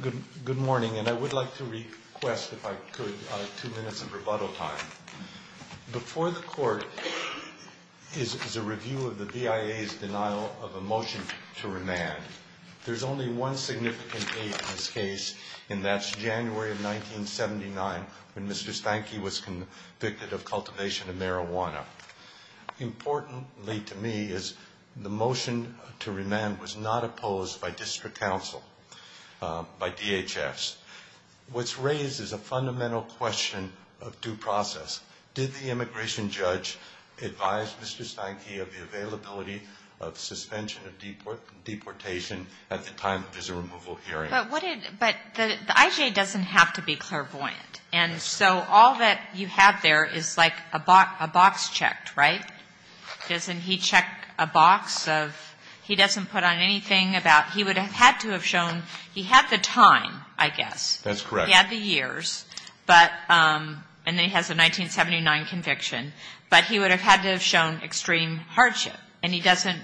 Good morning, and I would like to request, if I could, two minutes of rebuttal time. Before the Court is a review of the BIA's denial of a motion to remand. There's only one significant case in this case, and that's January of 1979, when Mr. Steinki was convicted of cultivation of marijuana. Importantly to me is the motion to remand was not opposed by district council, by DHS. What's raised is a fundamental question of due process. Did the immigration judge advise Mr. Steinki of the availability of suspension of deportation at the time of his removal hearing? But the IJ doesn't have to be clairvoyant. And so all that you have there is like a box checked, right? Doesn't he check a box of, he doesn't put on anything about, he would have had to have shown, he had the time, I guess. That's correct. He had the years, but, and he has a 1979 conviction, but he would have had to have shown extreme hardship. And he doesn't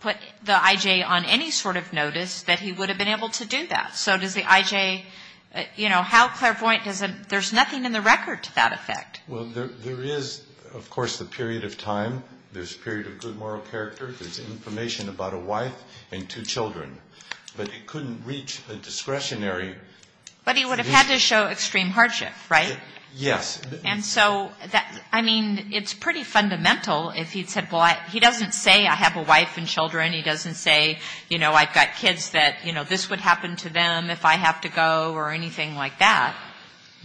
put the IJ on any sort of notice that he would have been able to do that. So does the IJ, you know, how clairvoyant, there's nothing in the record to that effect. Well, there is, of course, the period of time. There's a period of good moral character, there's information about a wife and two children. But it couldn't reach a discretionary. But he would have had to show extreme hardship, right? Yes. And so, I mean, it's pretty fundamental if he said, well, he doesn't say I have a wife and children. He doesn't say, you know, I've got kids that, you know, this would happen to them if I have to go or anything like that.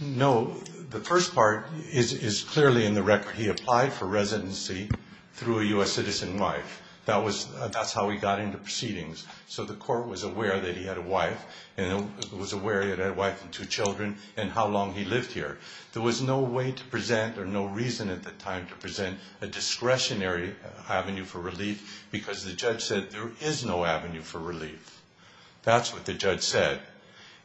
No. The first part is clearly in the record. He applied for residency through a U.S. citizen wife. That's how he got into proceedings. So the court was aware that he had a wife and two children and how long he lived here. There was no way to present or no reason at the time to present a discretionary avenue for relief because the judge said there is no avenue for relief. That's what the judge said.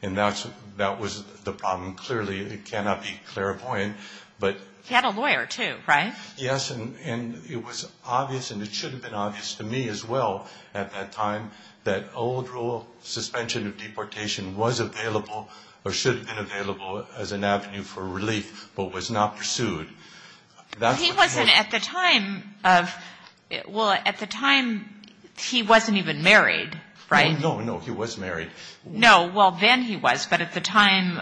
And that was the problem. Clearly, it cannot be clairvoyant. He had a lawyer, too, right? Yes, and it was obvious and it should have been obvious to me as well at that time that old rule, no, no, he was married. No, well, then he was, but at the time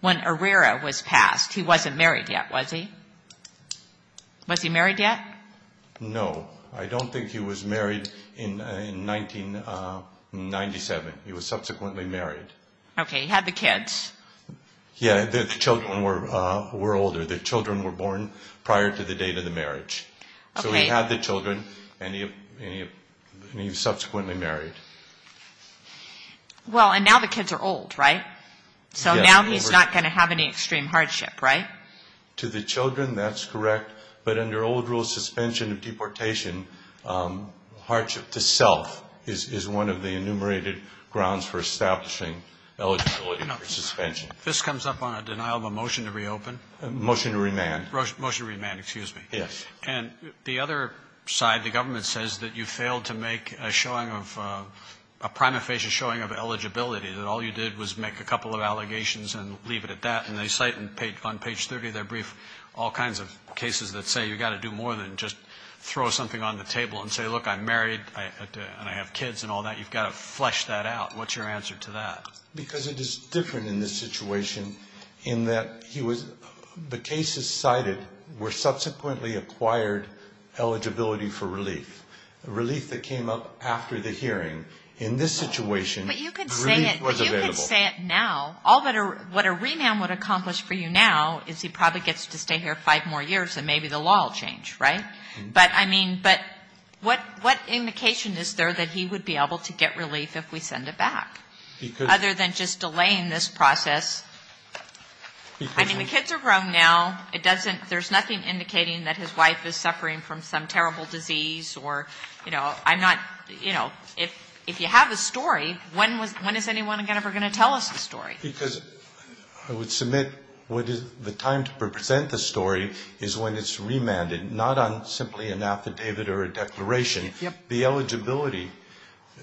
when Herrera was passed, he wasn't married yet, was he? Was he married yet? No, I don't think he was married in 1997. He was subsequently married. Okay, he had the kids. Yeah, the children were older. The children were born prior to the date of the marriage. So he had the children and he was subsequently married. Well, and now the kids are old, right? So now he's not going to have any extreme hardship, right? To the children, that's correct, but under old rule suspension of deportation, hardship to self is one of the enumerated grounds for establishing eligibility for suspension. This comes up on a denial of a motion to reopen. Motion to remand. Motion to remand, excuse me. And the other side, the government says that you failed to make a showing of, a prima facie showing of eligibility, that all you did was make a couple of allegations and leave it at that, and they cite on page 30 of their brief all kinds of cases that say you've got to do more than just throw something on the table and say, look, I'm married and I have kids and all that. You've got to flesh that out. What's your answer to that? Because it is different in this situation in that he was, the cases cited were subsequently acquired eligibility for relief. Relief that came up after the hearing. In this situation, relief was available. But you could say it now. What a remand would accomplish for you now is he probably gets to stay here five more years and maybe the law will change, right? But I mean, but what indication is there that he would be able to get relief if we send it back? Other than just delaying this process. I mean, the kids are grown now. It doesn't, there's nothing indicating that his wife is suffering from some terrible disease or, you know, I'm not, you know, if you have a story, when is anyone ever going to tell us the story? Because I would submit the time to present the story is when it's remanded, the eligibility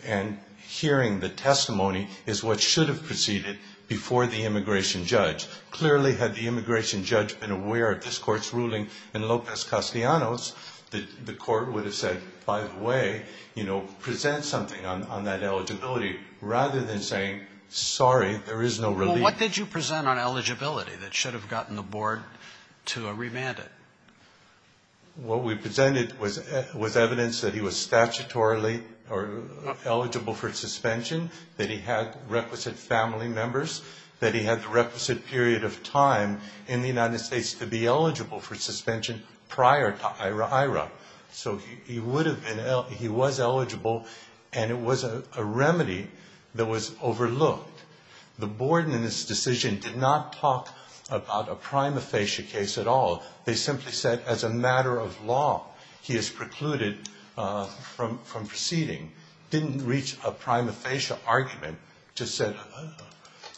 and hearing the testimony is what should have proceeded before the immigration judge. Clearly had the immigration judge been aware of this court's ruling in Lopez Castellanos, the court would have said, by the way, you know, present something on that eligibility, rather than saying, sorry, there is no relief. Well, what did you present on eligibility that should have gotten the board to remand it? What we presented was evidence that he was statutorily eligible for suspension, that he had requisite family members, that he had the requisite period of time in the United States to be eligible for suspension prior to IRA-IRA. So he would have been, he was eligible, and it was a remedy that was overlooked. The board in this decision did not talk about a prima facie case at all. They simply said as a matter of law, he is precluded from proceeding. Didn't reach a prima facie argument, just said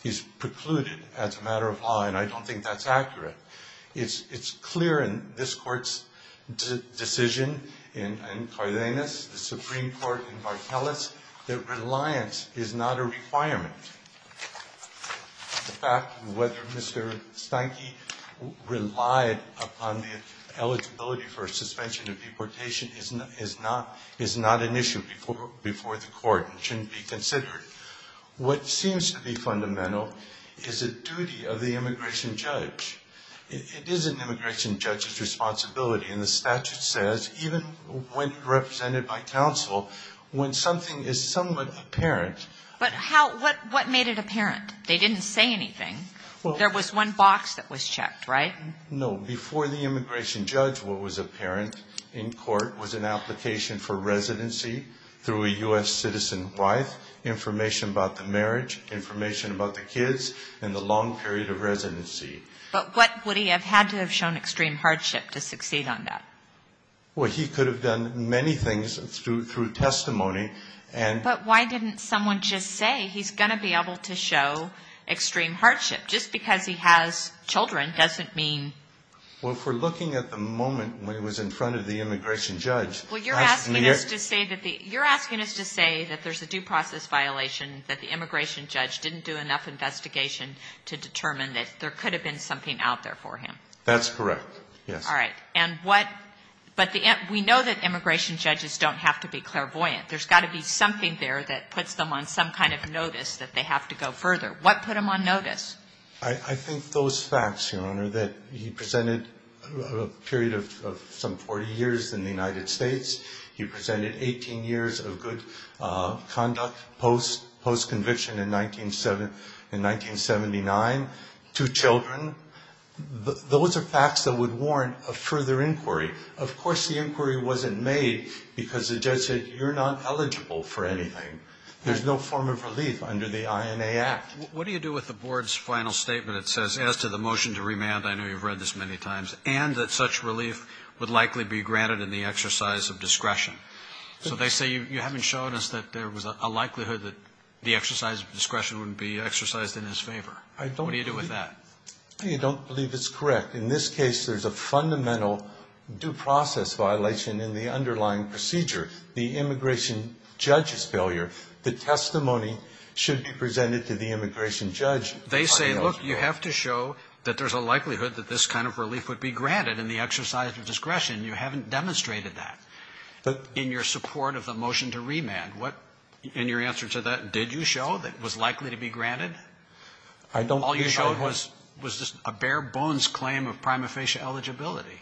he's precluded as a matter of law, and I don't think that's accurate. It's clear in this court's decision in Cardenas, the Supreme Court in Vartelis, that reliance is not a requirement. The fact whether Mr. Steinke relied upon the eligibility for suspension of deportation is not an issue before the court and shouldn't be considered. What seems to be fundamental is the duty of the immigration judge. It is an immigration judge's responsibility, and the statute says, even when represented by counsel, when something is somewhat apparent. But how, what made it apparent? They didn't say anything. There was one box that was checked, right? No. Before the immigration judge, what was apparent in court was an application for residency through a U.S. citizen wife, information about the marriage, information about the kids, and the long period of residency. But what would he have had to have shown extreme hardship to succeed on that? Well, he could have done many things through testimony. But why didn't someone just say, he's going to be able to show extreme hardship? Just because he has children doesn't mean... Well, if we're looking at the moment when he was in front of the immigration judge... Well, you're asking us to say that there's a due process violation that the immigration judge didn't do enough investigation to determine that there could have been something out there for him. That's correct, yes. All right. But we know that immigration judges don't have to be clairvoyant. There's got to be something there that puts them on some kind of notice that they have to go further. What put him on notice? I think those facts, Your Honor, that he presented a period of some 40 years in the United States. He presented 18 years of good conduct post-conviction in 1979, two children. Those are facts that would warrant a further inquiry. Of course, the inquiry wasn't made because the judge said, you're not eligible for anything. There's no form of relief under the INA Act. What do you do with the board's final statement? It says, as to the motion to remand, I know you've read this many times, and that such relief would likely be granted in the exercise of discretion. So they say, you haven't shown us that there was a likelihood that the exercise of discretion would be exercised in his favor. What do you do with that? I don't believe it's correct. In this case, there's a fundamental due process violation in the underlying procedure, the immigration judge's failure. The testimony should be presented to the immigration judge. They say, look, you have to show that there's a likelihood that this kind of relief would be granted in the exercise of discretion. You haven't demonstrated that in your support of the motion to remand. In your answer to that, did you show that it was likely to be granted? All you showed was just a bare-bones claim of prima facie eligibility.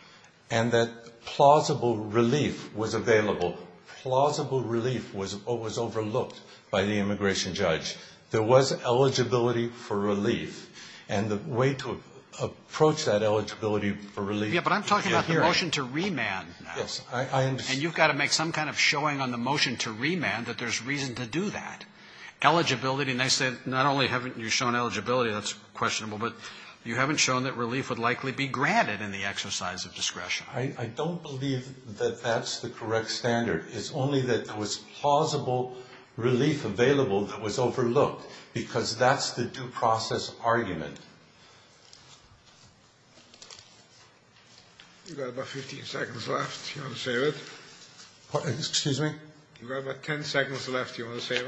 And that plausible relief was available. Plausible relief was overlooked by the immigration judge. There was eligibility for relief, and the way to approach that eligibility for relief. Yeah, but I'm talking about the motion to remand now. Yes, I understand. And you've got to make some kind of showing on the motion to remand that there's reason to do that. Eligibility, and I say not only haven't you shown eligibility, that's questionable, but you haven't shown that relief would likely be granted in the exercise of discretion. I don't believe that that's the correct standard. It's only that there was plausible relief available that was overlooked, because that's the due process argument. You've got about 15 seconds left. Do you want to save it? Excuse me? You've got about 10 seconds left. Do you want to save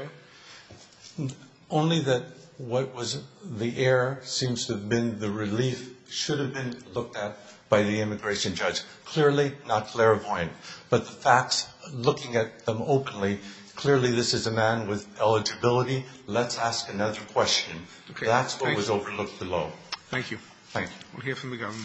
it? Only that what was the error seems to have been the relief should have been looked at by the immigration judge. Clearly not clairvoyant, but the facts, looking at them openly, clearly this is a man with eligibility. Let's ask another question. That's what was overlooked below. Thank you. Thank you. We'll hear from the governor.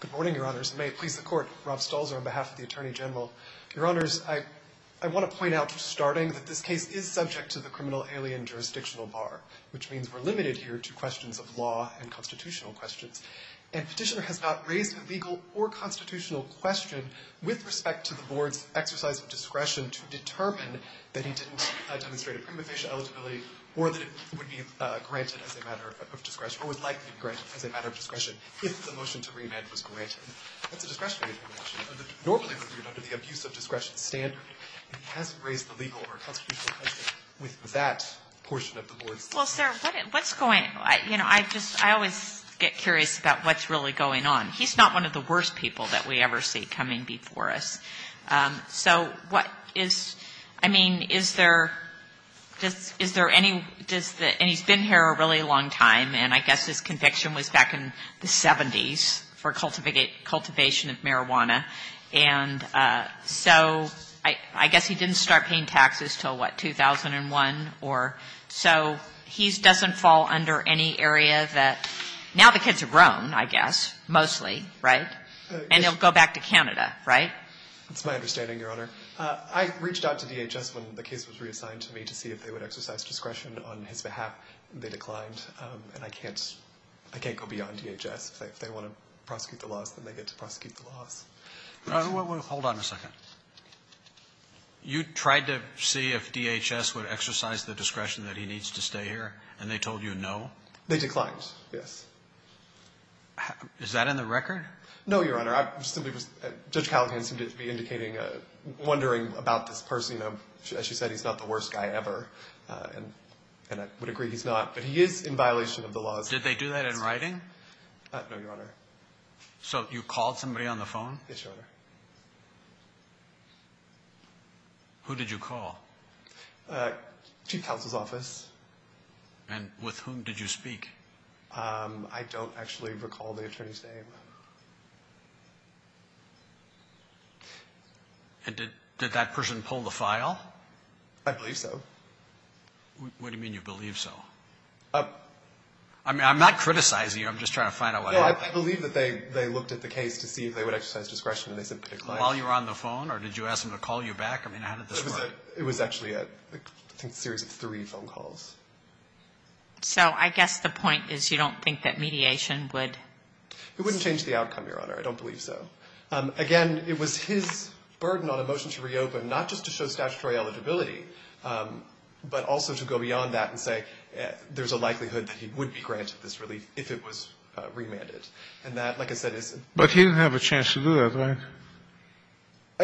Good morning, Your Honors. May it please the Court, Rob Stolzer on behalf of the Attorney General. Your Honors, I want to point out starting that this case is subject to the criminal alien jurisdictional bar, which means we're limited here to questions of law and constitutional questions. And Petitioner has not raised a legal or constitutional question with respect to the Board's exercise of discretion to determine that he didn't demonstrate a prima facie eligibility or that it would be granted as a matter of discretion if the motion to remand was granted. That's a discretionary action, normally reviewed under the abuse of discretion standard. And he hasn't raised a legal or constitutional question with that portion of the Board's discretion. Well, sir, what's going on? You know, I just, I always get curious about what's really going on. He's not one of the worst people that we ever see coming before us. So what is, I mean, is there, is there any, does the, and he's been here a really long time, and I guess his conviction was back in the 70s for cultivation of marijuana. And so I guess he didn't start paying taxes until, what, 2001 or, so he doesn't fall under any area that, now the kids are grown, I guess, mostly, right? And they'll go back to Canada, right? That's my understanding, Your Honor. I reached out to DHS when the case was reassigned to me to see if they would exercise discretion on his behalf. They declined. And I can't, I can't go beyond DHS. If they want to prosecute the laws, then they get to prosecute the laws. Hold on a second. You tried to see if DHS would exercise the discretion that he needs to stay here, and they told you no? They declined, yes. Is that in the record? No, Your Honor. I simply was, Judge Callahan seemed to be indicating, wondering about this person. You know, as she said, he's not the worst guy ever, and I would agree he's not, but he is in violation of the laws. Did they do that in writing? No, Your Honor. So you called somebody on the phone? Yes, Your Honor. Who did you call? Chief Counsel's office. And with whom did you speak? I don't actually recall the attorney's name. And did that person pull the file? I believe so. What do you mean, you believe so? I'm not criticizing you. I'm just trying to find out what happened. Well, I believe that they looked at the case to see if they would exercise discretion, and they said they declined. While you were on the phone? Or did you ask them to call you back? I mean, how did this work? It was actually a series of three phone calls. So I guess the point is you don't think that mediation would? It wouldn't change the outcome, Your Honor. I don't believe so. Again, it was his burden on a motion to reopen, not just to show statutory eligibility, but also to go beyond that and say there's a likelihood that he would be granted this relief if it was remanded. And that, like I said, is. But he didn't have a chance to do that, right?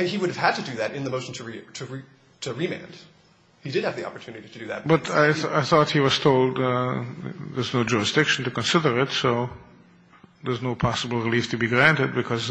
He would have had to do that in the motion to remand. He did have the opportunity to do that. But I thought he was told there's no jurisdiction to consider it, so there's no possible relief to be granted because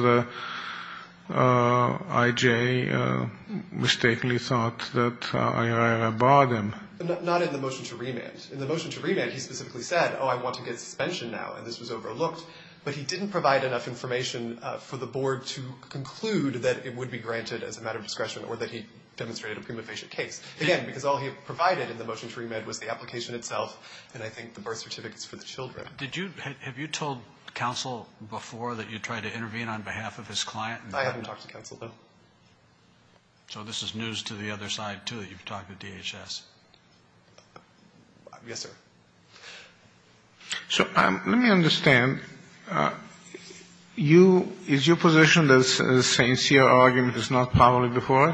I.J. mistakenly thought that I.R.I.R. barred him. Not in the motion to remand. In the motion to remand, he specifically said, oh, I want to get suspension now, and this was overlooked. But he didn't provide enough information for the board to conclude that it would be granted as a matter of discretion or that he demonstrated a prima facie case. Again, because all he provided in the motion to remand was the application itself and I think the birth certificates for the children. Did you – have you told counsel before that you tried to intervene on behalf of his client? I haven't talked to counsel, no. So this is news to the other side, too, that you've talked to DHS? Yes, sir. So let me understand. You – is your position that the St. Cyr argument is not probably before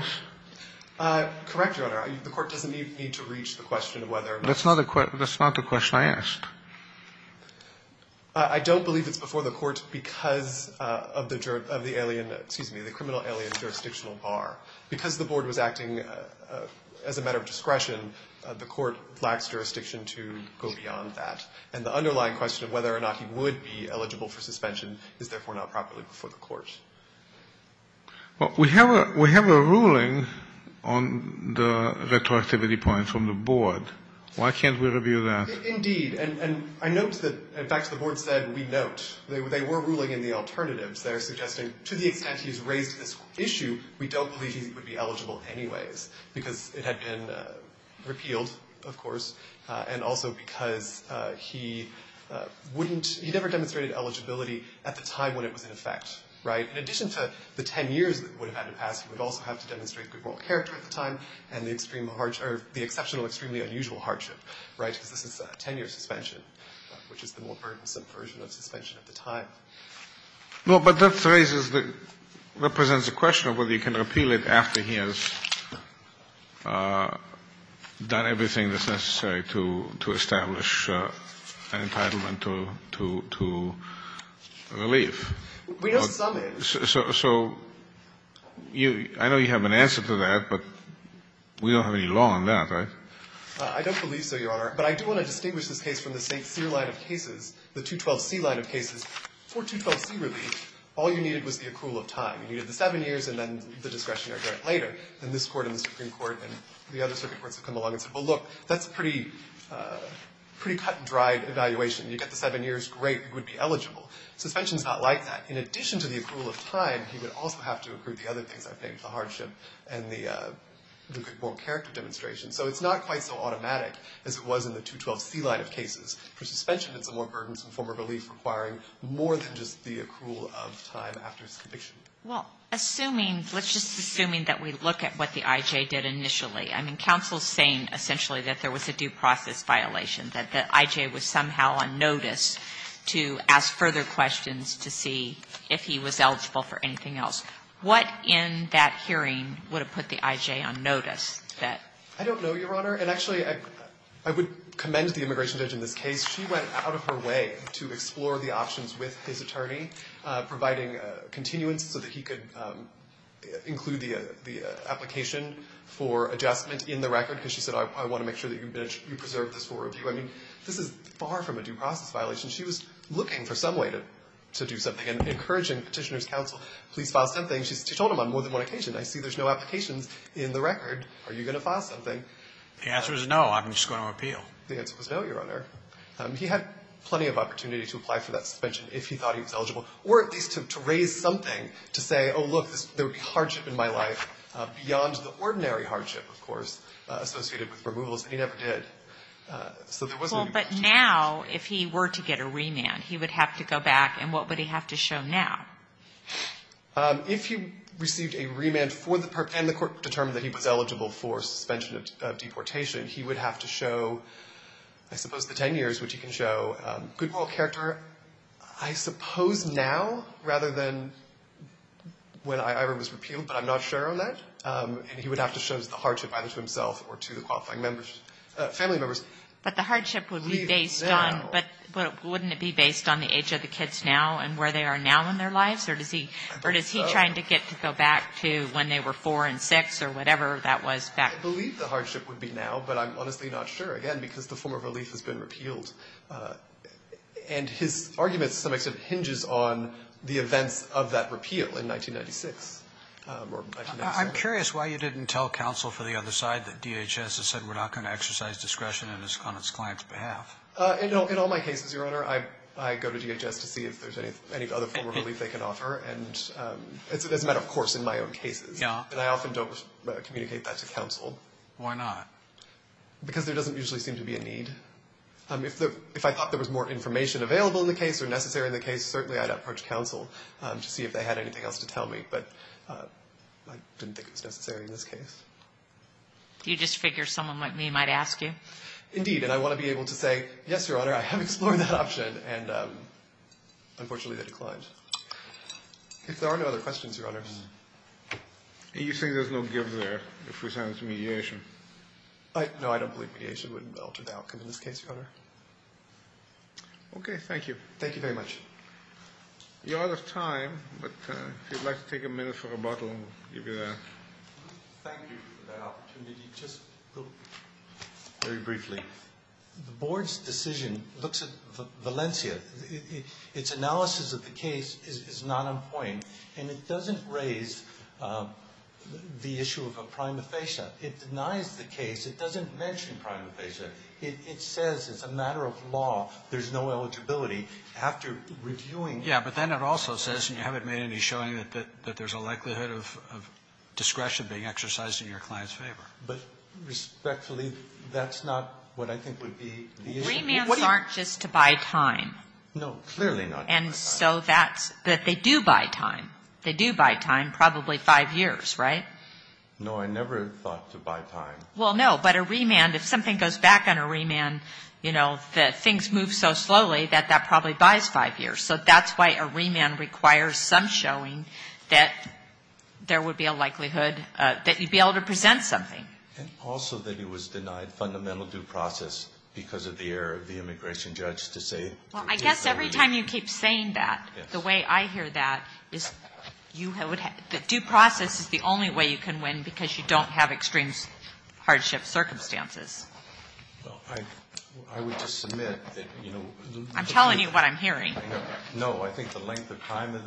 us? Correct, Your Honor. The court doesn't need to reach the question of whether or not – That's not the question I asked. I don't believe it's before the court because of the alien – excuse me, the criminal alien jurisdictional bar. Because the board was acting as a matter of discretion, the court lacks jurisdiction to go beyond that. And the underlying question of whether or not he would be eligible for suspension is therefore not properly before the court. Well, we have a – we have a ruling on the retroactivity point from the board. Why can't we review that? Indeed. And I note that – in fact, the board said we note. They were ruling in the alternatives. They're suggesting to the extent he's raised this issue, we don't believe he would be eligible anyways because it had been repealed, of course, and also because he wouldn't – he never demonstrated eligibility at the time when it was in effect, right? In addition to the 10 years that would have had to pass, he would also have to demonstrate good moral character at the time and the extreme – or the exceptional, extremely unusual hardship, right? Because this is a 10-year suspension, which is the more burdensome version of suspension at the time. Well, but that raises the – represents a question of whether you can repeal it after he has done everything that's necessary to establish an entitlement to relief. We know some is. So you – I know you have an answer to that, but we don't have any law on that, right? I don't believe so, Your Honor. But I do want to distinguish this case from the St. Cyr line of cases, the 212C line of cases. For 212C relief, all you needed was the accrual of time. You needed the 7 years and then the discretionary grant later. And this Court and the Supreme Court and the other circuit courts have come along and said, well, look, that's a pretty cut and dried evaluation. You get the 7 years, great, you would be eligible. Suspension is not likely. In addition to the accrual of time, you would also have to accrue the other things I've named, the hardship and the moral character demonstration. So it's not quite so automatic as it was in the 212C line of cases. For suspension, it's a more burdensome form of relief requiring more than just the accrual of time after his conviction. Well, assuming – let's just assuming that we look at what the IJ did initially. I mean, counsel is saying essentially that there was a due process violation, that the IJ was somehow on notice to ask further questions to see if he was eligible for anything else. What in that hearing would have put the IJ on notice? I don't know, Your Honor. And actually, I would commend the immigration judge in this case. She went out of her way to explore the options with his attorney, providing continuance so that he could include the application for adjustment in the record because she said, I want to make sure that you preserve this for review. I mean, this is far from a due process violation. She was looking for some way to do something and encouraging Petitioner's counsel, please file something. She told him on more than one occasion. I see there's no applications in the record. Are you going to file something? The answer is no. I'm just going to appeal. The answer was no, Your Honor. He had plenty of opportunity to apply for that suspension if he thought he was eligible or at least to raise something to say, oh, look, there would be hardship in my life beyond the ordinary hardship, of course, associated with removals. And he never did. So there was no need to change. Well, but now, if he were to get a remand, he would have to go back. And what would he have to show now? If he received a remand and the court determined that he was eligible for suspension of deportation, he would have to show, I suppose, the 10 years, which he can show good moral character, I suppose now rather than when IJ was repealed, but I'm not sure on that. And he would have to show the hardship either to himself or to the qualifying members, family members. But the hardship would be based on, but wouldn't it be based on the age of the kids now and where they are now in their lives? Or is he trying to get to go back to when they were 4 and 6 or whatever that was back then? I believe the hardship would be now, but I'm honestly not sure, again, because the form of relief has been repealed. And his argument, to some extent, hinges on the events of that repeal in 1996 or 1996. I'm curious why you didn't tell counsel for the other side that DHS has said we're not going to exercise discretion on its client's behalf. In all my cases, Your Honor, I go to DHS to see if there's any other form of relief they can offer. And it's a matter of course in my own cases. Yeah. And I often don't communicate that to counsel. Why not? Because there doesn't usually seem to be a need. If I thought there was more information available in the case or necessary in the case, certainly I'd approach counsel to see if they had anything else to tell me. But I didn't think it was necessary in this case. You just figure someone like me might ask you? Indeed. And I want to be able to say, yes, Your Honor, I have explored that option. And unfortunately, they declined. If there are no other questions, Your Honor. And you think there's no give there if we send this to mediation? No, I don't believe mediation would alter the outcome in this case, Your Honor. Okay. Thank you. Thank you very much. You're out of time. But if you'd like to take a minute for rebuttal, I'll give you that. Thank you for that opportunity. Just very briefly, the Board's decision looks at Valencia. Its analysis of the case is not on point. And it doesn't raise the issue of a prima facie. It denies the case. It doesn't mention prima facie. It says it's a matter of law. There's no eligibility. After reviewing it. Yeah, but then it also says you haven't made any showing that there's a likelihood of discretion being exercised in your client's favor. But respectfully, that's not what I think would be the issue. Remands aren't just to buy time. No, clearly not. And so that's that they do buy time. They do buy time probably five years, right? No, I never thought to buy time. Well, no, but a remand, if something goes back on a remand, you know, the things move so slowly that that probably buys five years. So that's why a remand requires some showing that there would be a likelihood that you'd be able to present something. And also that it was denied fundamental due process because of the error of the immigration judge to say. Well, I guess every time you keep saying that, the way I hear that, the due process is the only way you can win because you don't have extreme hardship circumstances. Well, I would just submit that, you know. I'm telling you what I'm hearing. No, I think the length of time,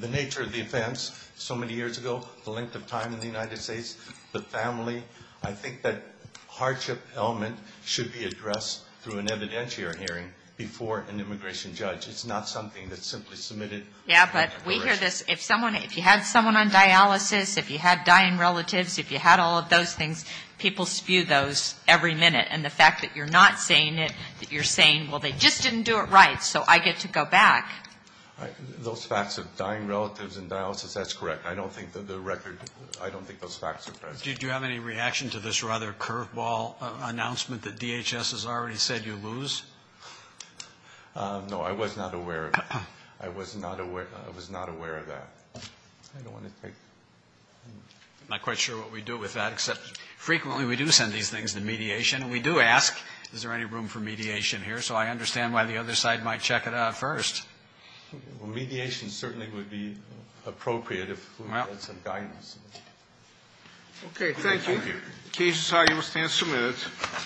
the nature of the offense so many years ago, the length of time in the United States, the family, I think that hardship element should be addressed through an evidentiary hearing before an immigration judge. It's not something that's simply submitted. Yeah, but we hear this. If you had someone on dialysis, if you had dying relatives, if you had all of those things, people spew those every minute. And the fact that you're not saying it, that you're saying, well, they just didn't do it right, so I get to go back. Those facts of dying relatives and dialysis, that's correct. I don't think that the record, I don't think those facts are present. Do you have any reaction to this rather curveball announcement that DHS has already said you lose? No, I was not aware of it. I was not aware of that. I don't want to think. I'm not quite sure what we do with that, except frequently, we do send these things to mediation. And we do ask, is there any room for mediation here? So I understand why the other side might check it out first. Well, mediation certainly would be appropriate if we had some guidance. Okay. Thank you. Thank you. The case is how it was to be submitted.